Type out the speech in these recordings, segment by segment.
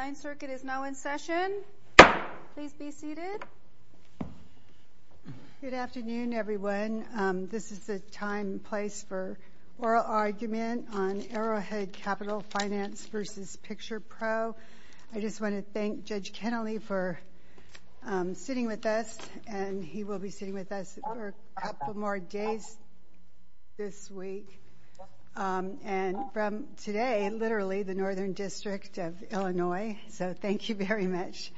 9th Circuit is now in session. Please be seated. Good afternoon, everyone. This is the time and place for oral argument on Arrowhead Capital Finance v. Picturepro. I just want to thank Judge Kennelly for sitting with us, and he will be sitting with us for a couple more days this week. And from today, literally, the Northern District of Illinois. So thank you very much,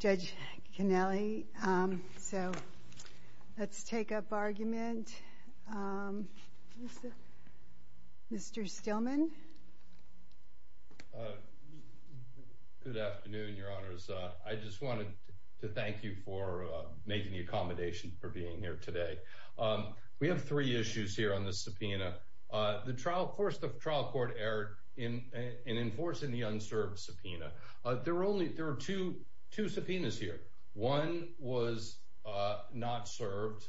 Judge Kennelly. So let's take up argument. Mr. Stillman. Good afternoon, Your Honors. I just wanted to thank you for making the accommodation for being here today. We have three in enforcing the unserved subpoena. There are two subpoenas here. One was not served,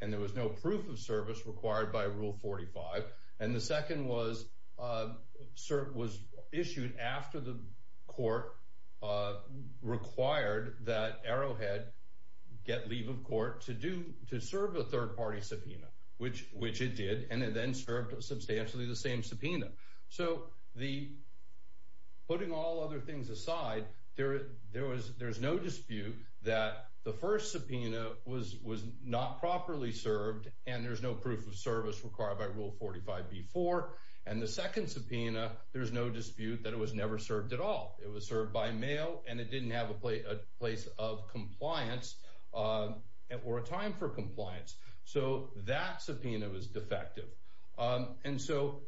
and there was no proof of service required by Rule 45. And the second was issued after the court required that Arrowhead get leave of court to serve a third-party subpoena, which it did, and it then served substantially the same subpoena. So putting all other things aside, there's no dispute that the first subpoena was not properly served, and there's no proof of service required by Rule 45 before. And the second subpoena, there's no dispute that it was never served at all. It was served by mail, and it didn't have a place of compliance or a time for service. And so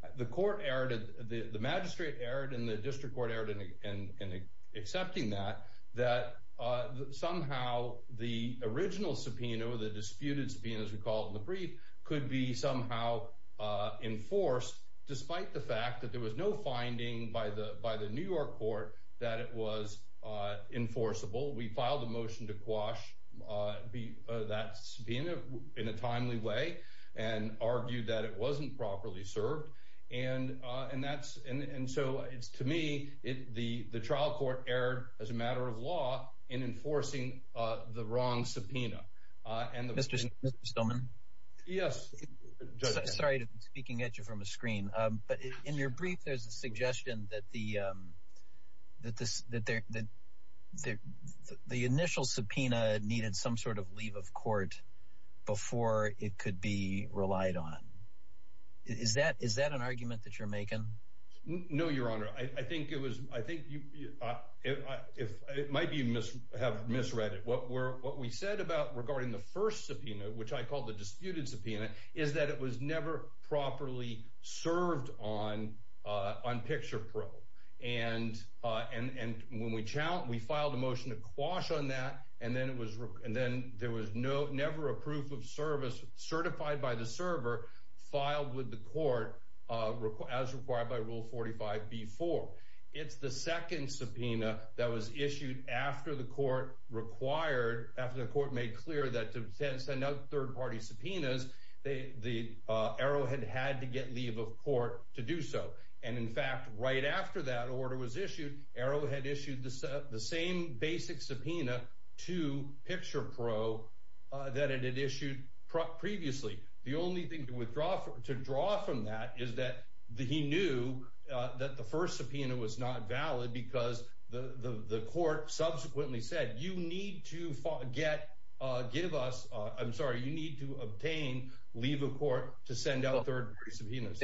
the magistrate erred, and the district court erred in accepting that, that somehow the original subpoena, the disputed subpoena, as we call it in the brief, could be somehow enforced, despite the fact that there was no finding by the New York court that it was enforceable. We filed a motion to quash that subpoena in a timely way and argued that it should be served. And so it's, to me, the trial court erred as a matter of law in enforcing the wrong subpoena. Mr. Stillman? Yes. Sorry to be speaking at you from a screen, but in your brief, there's a suggestion that the initial subpoena needed some sort of leave of court before it could be relied on. Is that an argument that you're making? No, Your Honor. I think it was, I think, it might be you have misread it. What we said about regarding the first subpoena, which I call the disputed subpoena, is that it was never properly served on picture pro. And when we challenged, we found that there was never a proof of service certified by the server filed with the court as required by Rule 45B-4. It's the second subpoena that was issued after the court required, after the court made clear that to send out third-party subpoenas, the arrowhead had to get leave of court to do so. And in fact, right after that order was issued, Arrowhead issued the same basic subpoena to picture pro that it had issued previously. The only thing to withdraw from that is that he knew that the first subpoena was not valid because the court subsequently said, you need to get, give us, I'm sorry, you need to obtain leave of court to send out third-party subpoenas.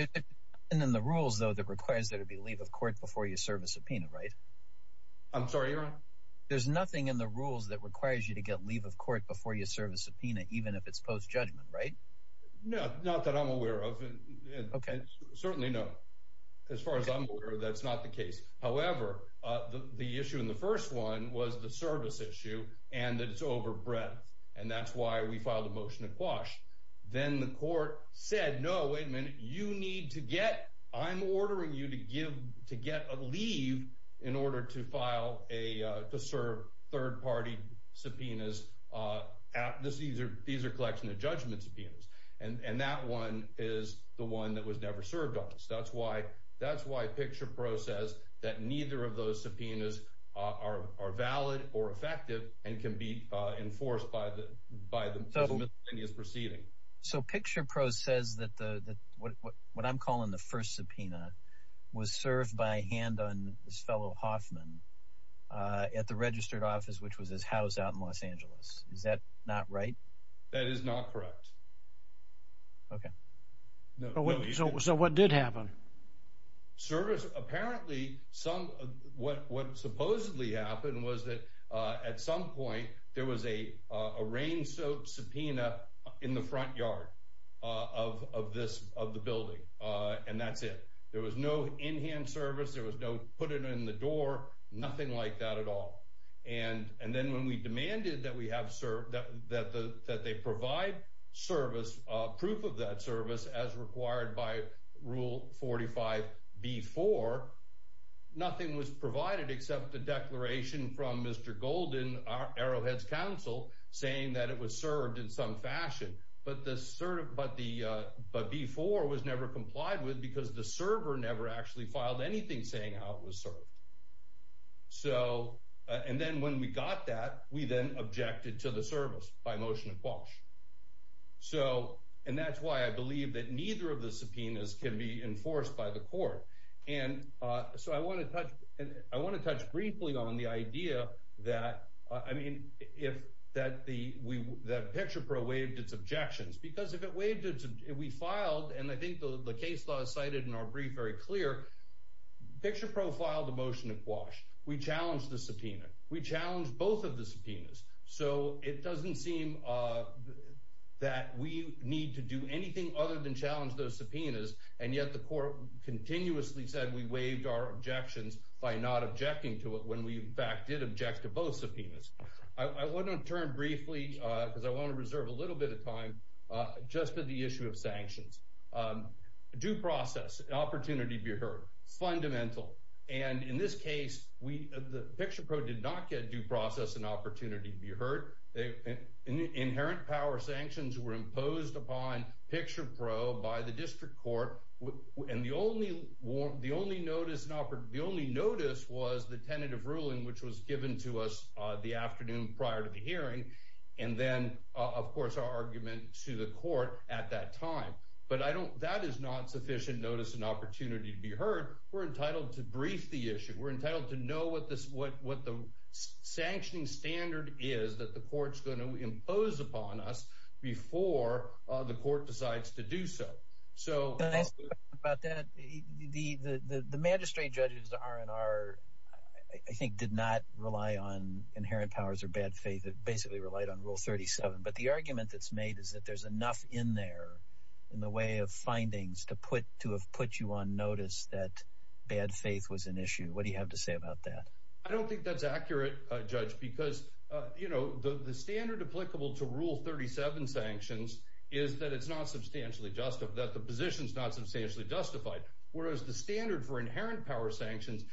And then the rules, though, that requires there to be leave of court before you serve a subpoena, right? I'm sorry, you're on? There's nothing in the rules that requires you to get leave of court before you serve a subpoena, even if it's post-judgment, right? No, not that I'm aware of. Okay. Certainly not. As far as I'm aware, that's not the case. However, the issue in the first one was the service issue and that it's over breadth. And that's why we filed a motion to quash. Then the court said, no, wait a minute, you need to get, I'm ordering you to give, to get a leave in order to file a, to serve third-party subpoenas at this, these are, these are collection of judgment subpoenas. And that one is the one that was never served on us. That's why, that's why Picture Pro says that neither of those subpoenas are valid or effective and can be enforced by the, by the misdemeanors proceeding. So Picture Pro says that the, that what, what I'm calling the first subpoena was served by hand on his fellow Hoffman at the registered office, which was his house out in Los Angeles. Is that not right? That is not correct. Okay. So what did happen? Service, apparently some, what supposedly happened was that at some point there was a, a rain soap subpoena in the front yard of, of this, of the building. And that's it. There was no in-hand service. There was no put it in the door, nothing like that at all. And, and then when we demanded that we have served that, that the, that they provide service, proof of that service as required by rule 45B4, nothing was provided except the declaration from Mr. Golden, Arrowhead's counsel saying that it was served in some fashion, but the sort of, but the, but B4 was never complied with because the server never actually filed anything saying how it was served. So, and then when we got that, we then objected to the service by motion of quash. So, and that's why I believe that neither of the subpoenas can be enforced by the court. And so I want to touch, I want to touch briefly on the idea that, I mean, if that the, we, that PicturePro waived its objections, because if it waived it, we filed, and I think the case law is cited in our brief very clear, PicturePro filed a motion of quash, we challenged the subpoena, we challenged both of the subpoenas, so it doesn't seem that we need to do anything other than challenge those subpoenas. And yet the court continuously said we waived our objections by not objecting to it when we in fact did object to both subpoenas. I want to turn briefly, because I want to reserve a little bit of time, just for the issue of sanctions. Due process, an opportunity to be heard, fundamental. And in this case, we, the PicturePro did not get due process and opportunity to be heard. Inherent power sanctions were imposed upon PicturePro by the district court, and the only, the only notice, the only notice was the tentative ruling which was given to us the afternoon prior to the hearing, and then of course our argument to the court at that time. But I don't, that is not sufficient notice and opportunity to be heard. We're entitled to brief the issue. We're entitled to know what the sanctioning standard is that the court's going to impose upon us before the court decides to do so. So about that, the, the, the, the magistrate judges, the RNR, I think did not rely on inherent powers or bad faith, basically relied on rule 37. But the argument that's made is that there's enough in there in the way of findings to put, to have put you on notice that bad faith was an issue. What do you have to say about that? I don't think that's accurate, Judge, because you know, the standard applicable to rule 37 sanctions is that it's not substantially justified, that the position's not substantially justified, whereas the standard for inherent power sanctions,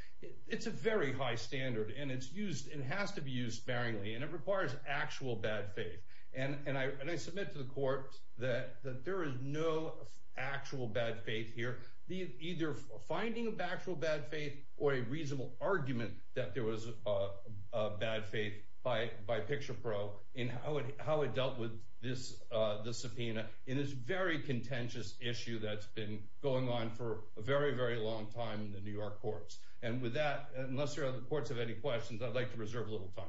it's a very high standard and it's used, it has to be used sparingly, and it requires actual bad faith. And, and I, and I submit to the court that, that there is no actual bad faith here, either finding of actual bad faith or a reasonable argument that there was a, a bad faith by, by PicturePro in how it, how it dealt with this, the subpoena in this very contentious issue that's been going on for a very, very long time in the New York courts. And with that, unless there are other courts have any questions, I'd like to reserve a little time.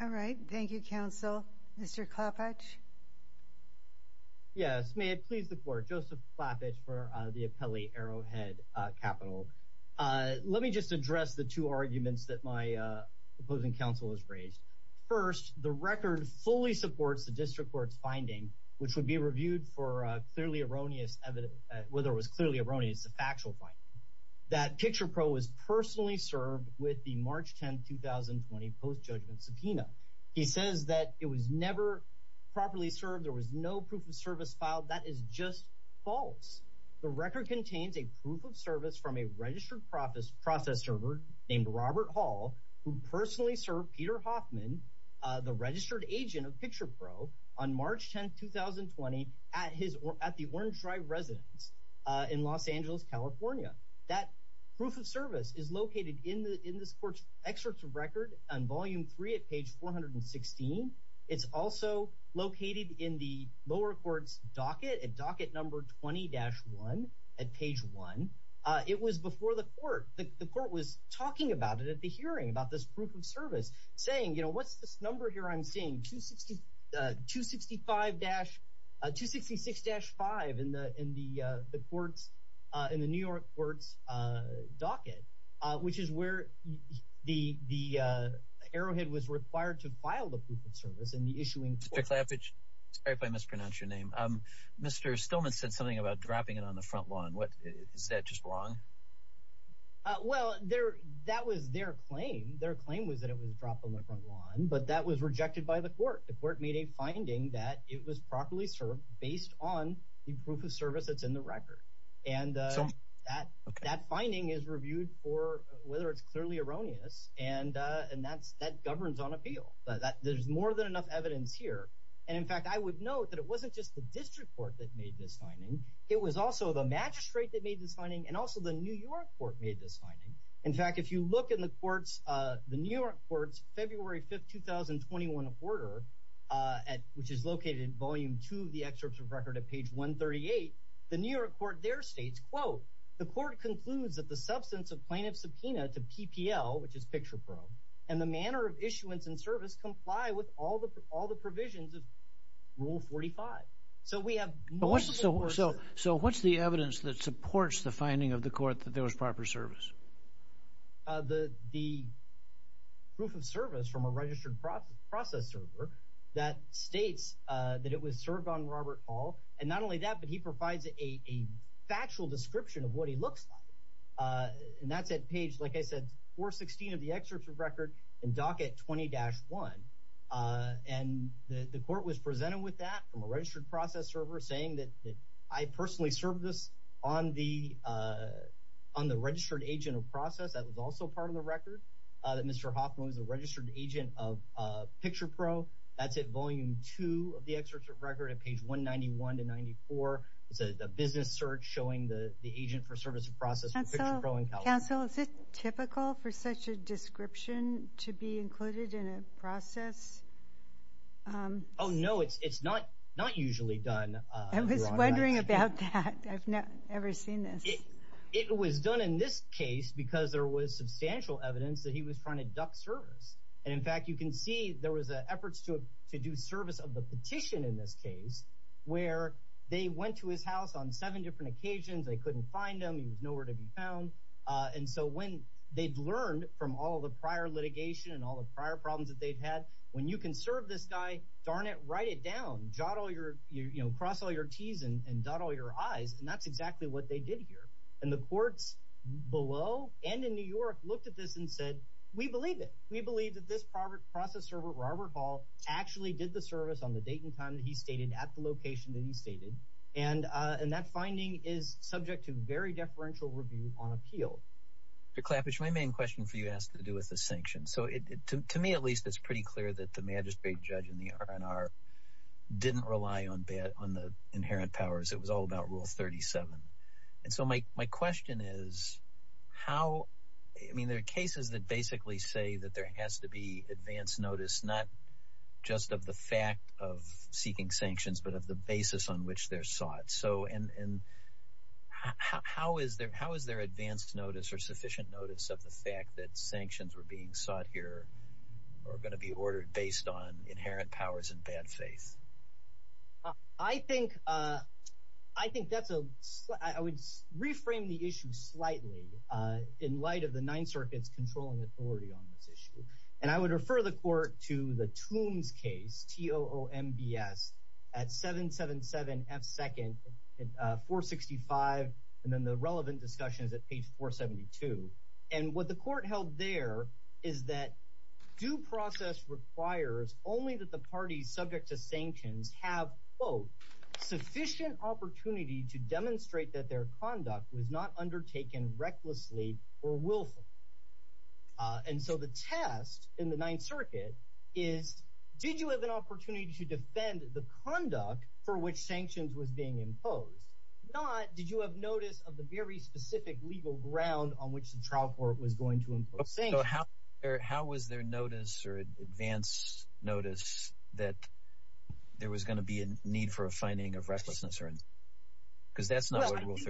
All right. Thank you, counsel. Mr. Klappach. Yes, may it please the court, Joseph Klappach for the Appellee Arrowhead Capital. Let me just address the two arguments that my opposing counsel has raised. First, the record fully supports the district court's finding, which would be reviewed for a clearly erroneous evidence, whether it was clearly erroneous, the factual finding, that PicturePro was personally served with the March 10th, 2020 post-judgment subpoena. He says that it was never properly served. There was no proof of service filed. That is just false. The record contains a proof of service from a registered process server named Robert Hall, who personally served Peter Hoffman, the registered agent of PicturePro on March 10th, 2020 at the Orange Drive residence in Los Angeles, California. That proof of service is located in this court's excerpts of record on volume three at page 416. It's also located in the lower court's docket at docket number 20-1 at page one. It was before the court. The court was talking about it at the hearing about this proof of service saying, you know, what's this number here? I'm seeing 265-266-5 in the court's, in the New York court's docket, which is where the Arrowhead was required to file the proof of service in the issuing. Mr. Klappach, sorry if I mispronounce your name. Mr. Stillman said something about dropping it on the front lawn. What, is that just wrong? Well, there, that was their claim. Their claim was that it was dropped on the front lawn, but that was rejected by the court. The court made a finding that it was properly served based on the proof of service that's in the record. And that, that finding is reviewed for whether it's clearly erroneous. And, and that's, that governs on appeal that there's more than enough evidence here. And in fact, I would note that it wasn't just the district court that made this finding. It was also the magistrate that made this finding and also the New York court made this finding. In fact, if you look in the courts the New York courts, February 5th, 2021, a quarter at, which is located in volume two of the excerpts of record at page 138, the New York court there states quote, the court concludes that the substance of plaintiff subpoena to PPL, which is picture pro and the manner of issuance and service comply with all the, all the provisions of rule 45. So we have, so, so, so what's the evidence that supports the finding of the court that there was proper service? Uh, the, the proof of service from a registered process server that states, uh, that it was served on Robert Hall. And not only that, but he provides a factual description of what he looks like. Uh, and that's at page, like I said, 416 of the excerpt from record and docket 20 dash one. Uh, and the, the court was presented with that from a registered process server saying that I personally served this on the, uh, on the registered agent of process that was also part of the record, uh, that Mr. Hoffman is a registered agent of, uh, picture pro that's at volume two of the excerpts of record at page one 91 to 94, it's a business search showing the, the agent for service of process. Counsel, is it typical for such a description to be included in a process? Um, oh, no, it's, it's not, not usually done. Uh, I was wondering about that. I've never seen this. It was done in this case because there was substantial evidence that he was trying to duck service. And in fact, you can see there was a efforts to, to do service of the petition in this case, where they went to his house on seven different occasions. They couldn't find them. He was nowhere to be found. Uh, and so when they'd learned from all the prior litigation and all the prior problems that they've had, when you can serve this guy, darn it, write it down, jot all your, you know, cross all your T's and dot all your eyes. And that's exactly what they did here. And the courts below and in New York looked at this and said, we believe it. We believe that this private process server, Robert Hall actually did the service on the date and time that he stated at the location that he stated. And, uh, and that finding is subject to very deferential review on appeal. To clap is my main question for you asked to do with the sanction. So it, to me, at least it's pretty clear that the magistrate judge in the RNR didn't rely on bad on the inherent powers. It was all about rule 37. And so my, my question is how, I mean, there are cases that basically say that there has to be advanced notice, not just of the fact of seeking sanctions, but of the basis on which they're sought. So, and, and how, how is there, how is there advanced notice or sufficient notice of the fact that sanctions were being sought here are going to be ordered based on inherent powers and bad faith? Uh, I think, uh, I think that's a, I would reframe the issue slightly, uh, in light of the nine circuits controlling authority on this issue. And I would refer the court to the tombs case T O O M B S at seven, seven, seven F second, uh, four 65. And then the relevant discussion is at page four 72. And what the court held there is that due process requires only that the parties subject to sanctions have both sufficient opportunity to demonstrate that their conduct was not undertaken recklessly or willfully. Uh, and so the test in the ninth circuit is, did you have an opportunity to defend the conduct for which sanctions was being imposed? Not, did you have notice of the very specific legal ground on which the trial court was going to impose? So how, how was their notice or advanced notice that there was going to be a need for a finding of recklessness or, because that's not what it was.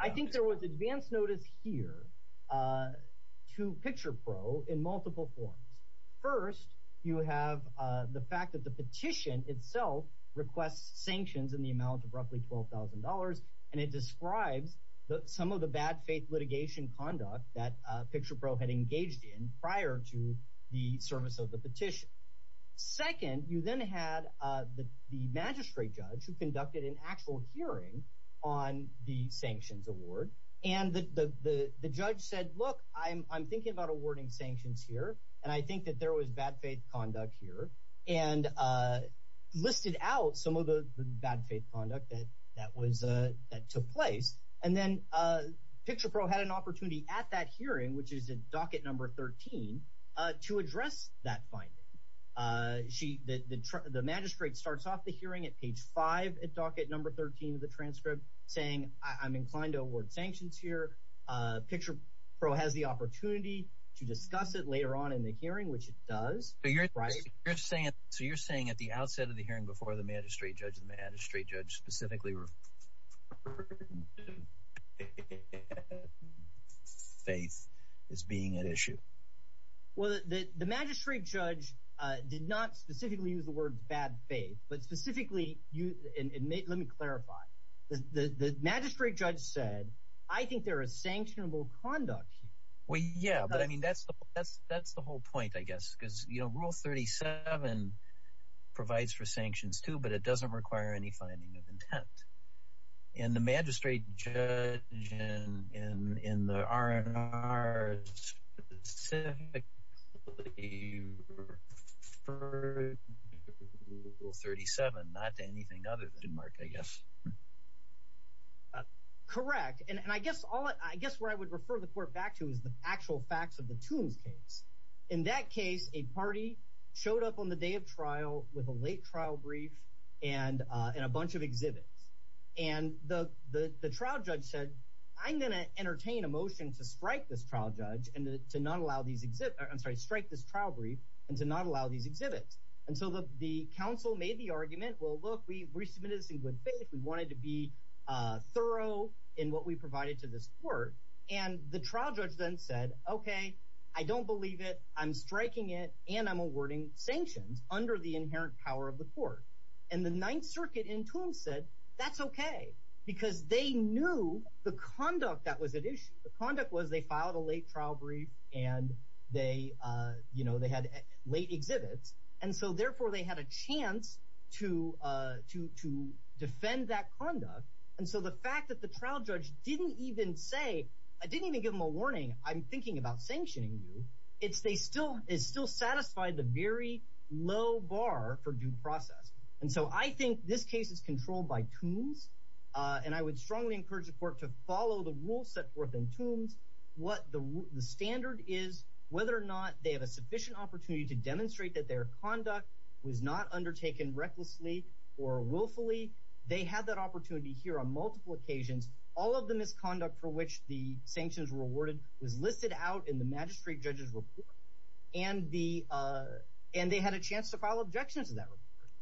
I think there was advanced notice here, uh, to picture pro in multiple forms. First, you have, uh, the fact that the petition itself requests sanctions in the amount of roughly $12,000. And it describes some of the bad faith litigation conduct that a picture pro had engaged in prior to the service of the petition. Second, you then had, uh, the, the magistrate judge who conducted an actual hearing on the sanctions award. And the, the, the, the judge said, look, I'm, I'm thinking about awarding sanctions here, and I think that there was bad faith conduct here and, uh, listed out some of the bad faith conduct that, that was, uh, that took place. And then, uh, picture pro had an opportunity at that hearing, which is in docket number 13, uh, to address that finding, uh, she, the, the, the magistrate starts off the hearing at page five at docket number 13 of the transcript saying I'm inclined to award sanctions here, uh, picture pro has the opportunity to discuss it later on in the hearing, which it does. So you're, you're saying, so you're saying at the outset of the hearing before the magistrate judge, the magistrate judge specifically, faith is being an issue. Well, the, the magistrate judge, uh, did not specifically use the word bad faith, but specifically you admit, let me clarify the, the, the magistrate judge said, I think there is sanctionable conduct. Well, yeah, but I mean, that's the, that's, that's the whole point, I guess. Cause you know, rule 37 provides for sanctions too, but it doesn't require any finding of intent. And the magistrate judge in, in, in the RNR specifically referred to rule 37, not to anything other than mark, I guess. Correct. And I guess all, I guess where I would refer the court back to is the actual facts of the tombs case. In that case, a party showed up on the day of trial with a late trial brief and, uh, and a bunch of exhibits. And the, the, the trial judge said, I'm going to entertain a motion to strike this trial judge and to not allow these exhibit, I'm sorry, strike this trial brief and to not allow these exhibits until the, the council made the argument, well, look, we resubmitted this in good faith. We wanted to be, uh, thorough in what we provided to this court. And the trial judge then said, okay, I don't believe it. I'm striking it. And I'm awarding sanctions under the inherent power of the court. And the ninth circuit in tomb said that's okay because they knew the conduct that was at issue. The conduct was they filed a late trial brief and they, uh, you know, they had late exhibits. And so therefore they had a chance to, uh, to, to defend that conduct. And so the fact that the trial judge didn't even say, I didn't even give them a warning. I'm thinking about sanctioning you. It's, they still is still satisfied the very low bar for due process. And so I think this case is controlled by toons. Uh, and I would strongly encourage the court to follow the rules set forth in tombs, what the standard is, whether or not they have a sufficient opportunity to demonstrate that their conduct was not undertaken recklessly or willfully. They had that opportunity here on multiple occasions, all of the misconduct for which the sanctions were awarded was listed out in the magistrate judges report and the, uh, and they had a chance to file objections to that.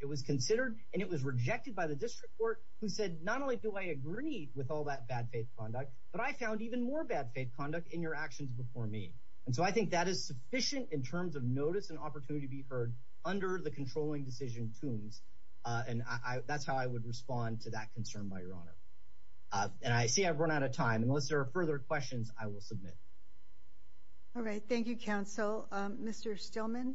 It was considered and it was rejected by the district court who said, not only do I agree with all that bad faith conduct, but I found even more bad faith conduct in your actions before me. And so I think that is sufficient in terms of notice and opportunity to be heard under the controlling decision toons. Uh, and I, that's how I would respond to that concern by your honor. Uh, and I see I've run out of time unless there are further questions I will submit. All right. Thank you. Counsel, um, Mr. Stillman.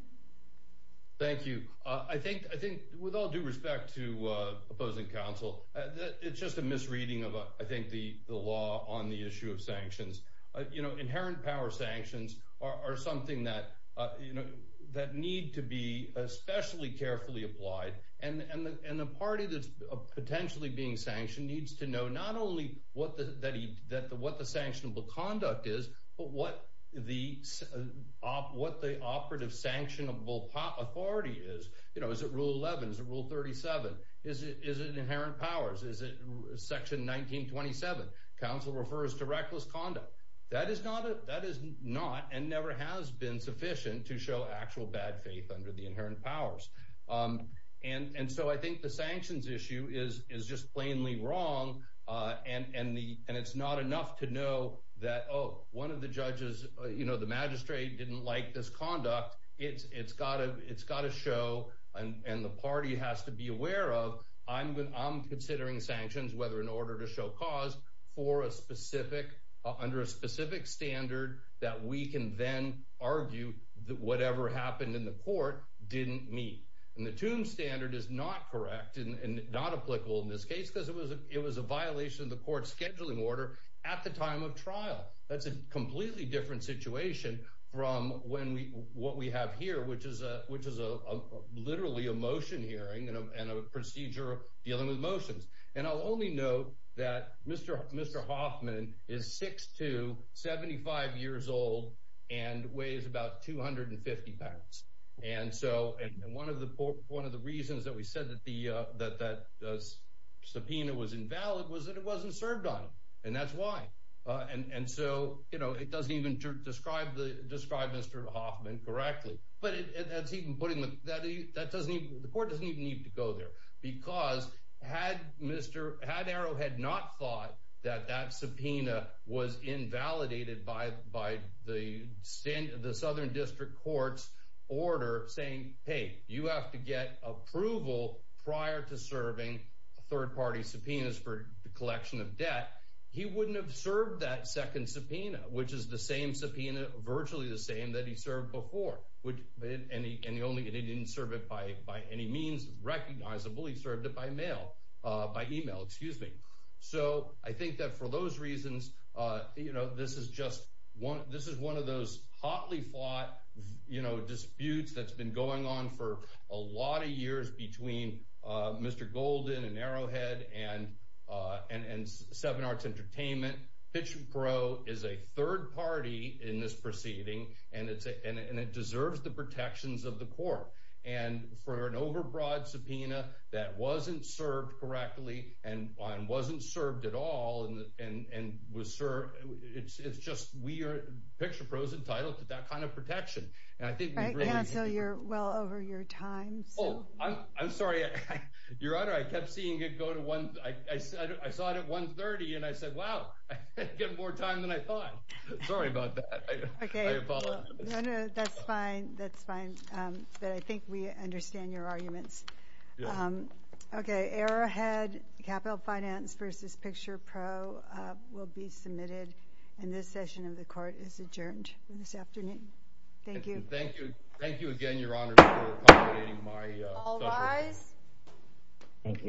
Thank you. Uh, I think, I think with all due respect to, uh, opposing counsel, uh, it's just a misreading of, uh, I think the, the law on the issue of sanctions, uh, you know, inherent power sanctions are something that, uh, that need to be especially carefully applied and, and the, and the party that's potentially being sanctioned needs to know not only what the, that he, that the, what the sanctionable conduct is, but what the, uh, what the operative sanctionable pop authority is, you know, is it rule 11? Is it rule 37? Is it, is it inherent powers? Is it section 1927? Counsel refers to reckless conduct. That is not a, that is not, and never has been sufficient to show actual bad faith under the inherent powers. Um, and, and so I think the sanctions issue is, is just plainly wrong. Uh, and, and the, and it's not enough to know that, oh, one of the judges, you know, the magistrate didn't like this conduct it's, it's gotta, it's gotta show, and the party has to be aware of I'm going, I'm considering sanctions, whether in order to show cause for a specific, uh, under a specific standard that we can then argue that whatever happened in the court didn't meet and the tomb standard is not correct and not applicable in this case. Cause it was a, it was a violation of the court scheduling order at the time of trial. That's a completely different situation from when we, what we have here, which is a, which is a literally a motion hearing and a, and a procedure dealing with motions. And I'll only know that Mr. Mr. Hoffman is six to 75 years old and weighs about 250 pounds. And so, and one of the, one of the reasons that we said that the, uh, that that does subpoena was invalid was that it wasn't served on him and that's why. Uh, and, and so, you know, it doesn't even describe the describe Mr. Hoffman correctly, but it's even putting that, that doesn't even, the had Mr. Had arrow had not thought that that subpoena was invalidated by, by the standard, the Southern district courts order saying, Hey, you have to get approval prior to serving third party subpoenas for the collection of debt. He wouldn't have served that second subpoena, which is the same subpoena, virtually the same that he served before, which, and he, and the only, and he didn't serve it by, by any means recognizable. He served it by mail, uh, by email, excuse me. So I think that for those reasons, uh, you know, this is just one, this is one of those hotly fought, you know, disputes that's been going on for a lot of years between, uh, Mr. Golden and arrowhead and, uh, and, and seven arts entertainment pitch pro is a third party in this proceeding. And it's a, and it deserves the protections of the court and for an overbroad subpoena that wasn't served correctly and wasn't served at all. And, and, and was sir, it's, it's just, we are picture pros entitled to that kind of protection and I think you're well over your time. So I'm sorry, your honor. I kept seeing it go to one. I said, I saw it at one 30 and I said, wow, I get more time than I thought. Sorry about that. Okay. That's fine. That's fine. Um, but I think we understand your arguments. Um, okay. Arrowhead capital finance versus picture pro, uh, will be submitted and this session of the court is adjourned this afternoon. Thank you. Thank you. Thank you again, your honor. Thank you.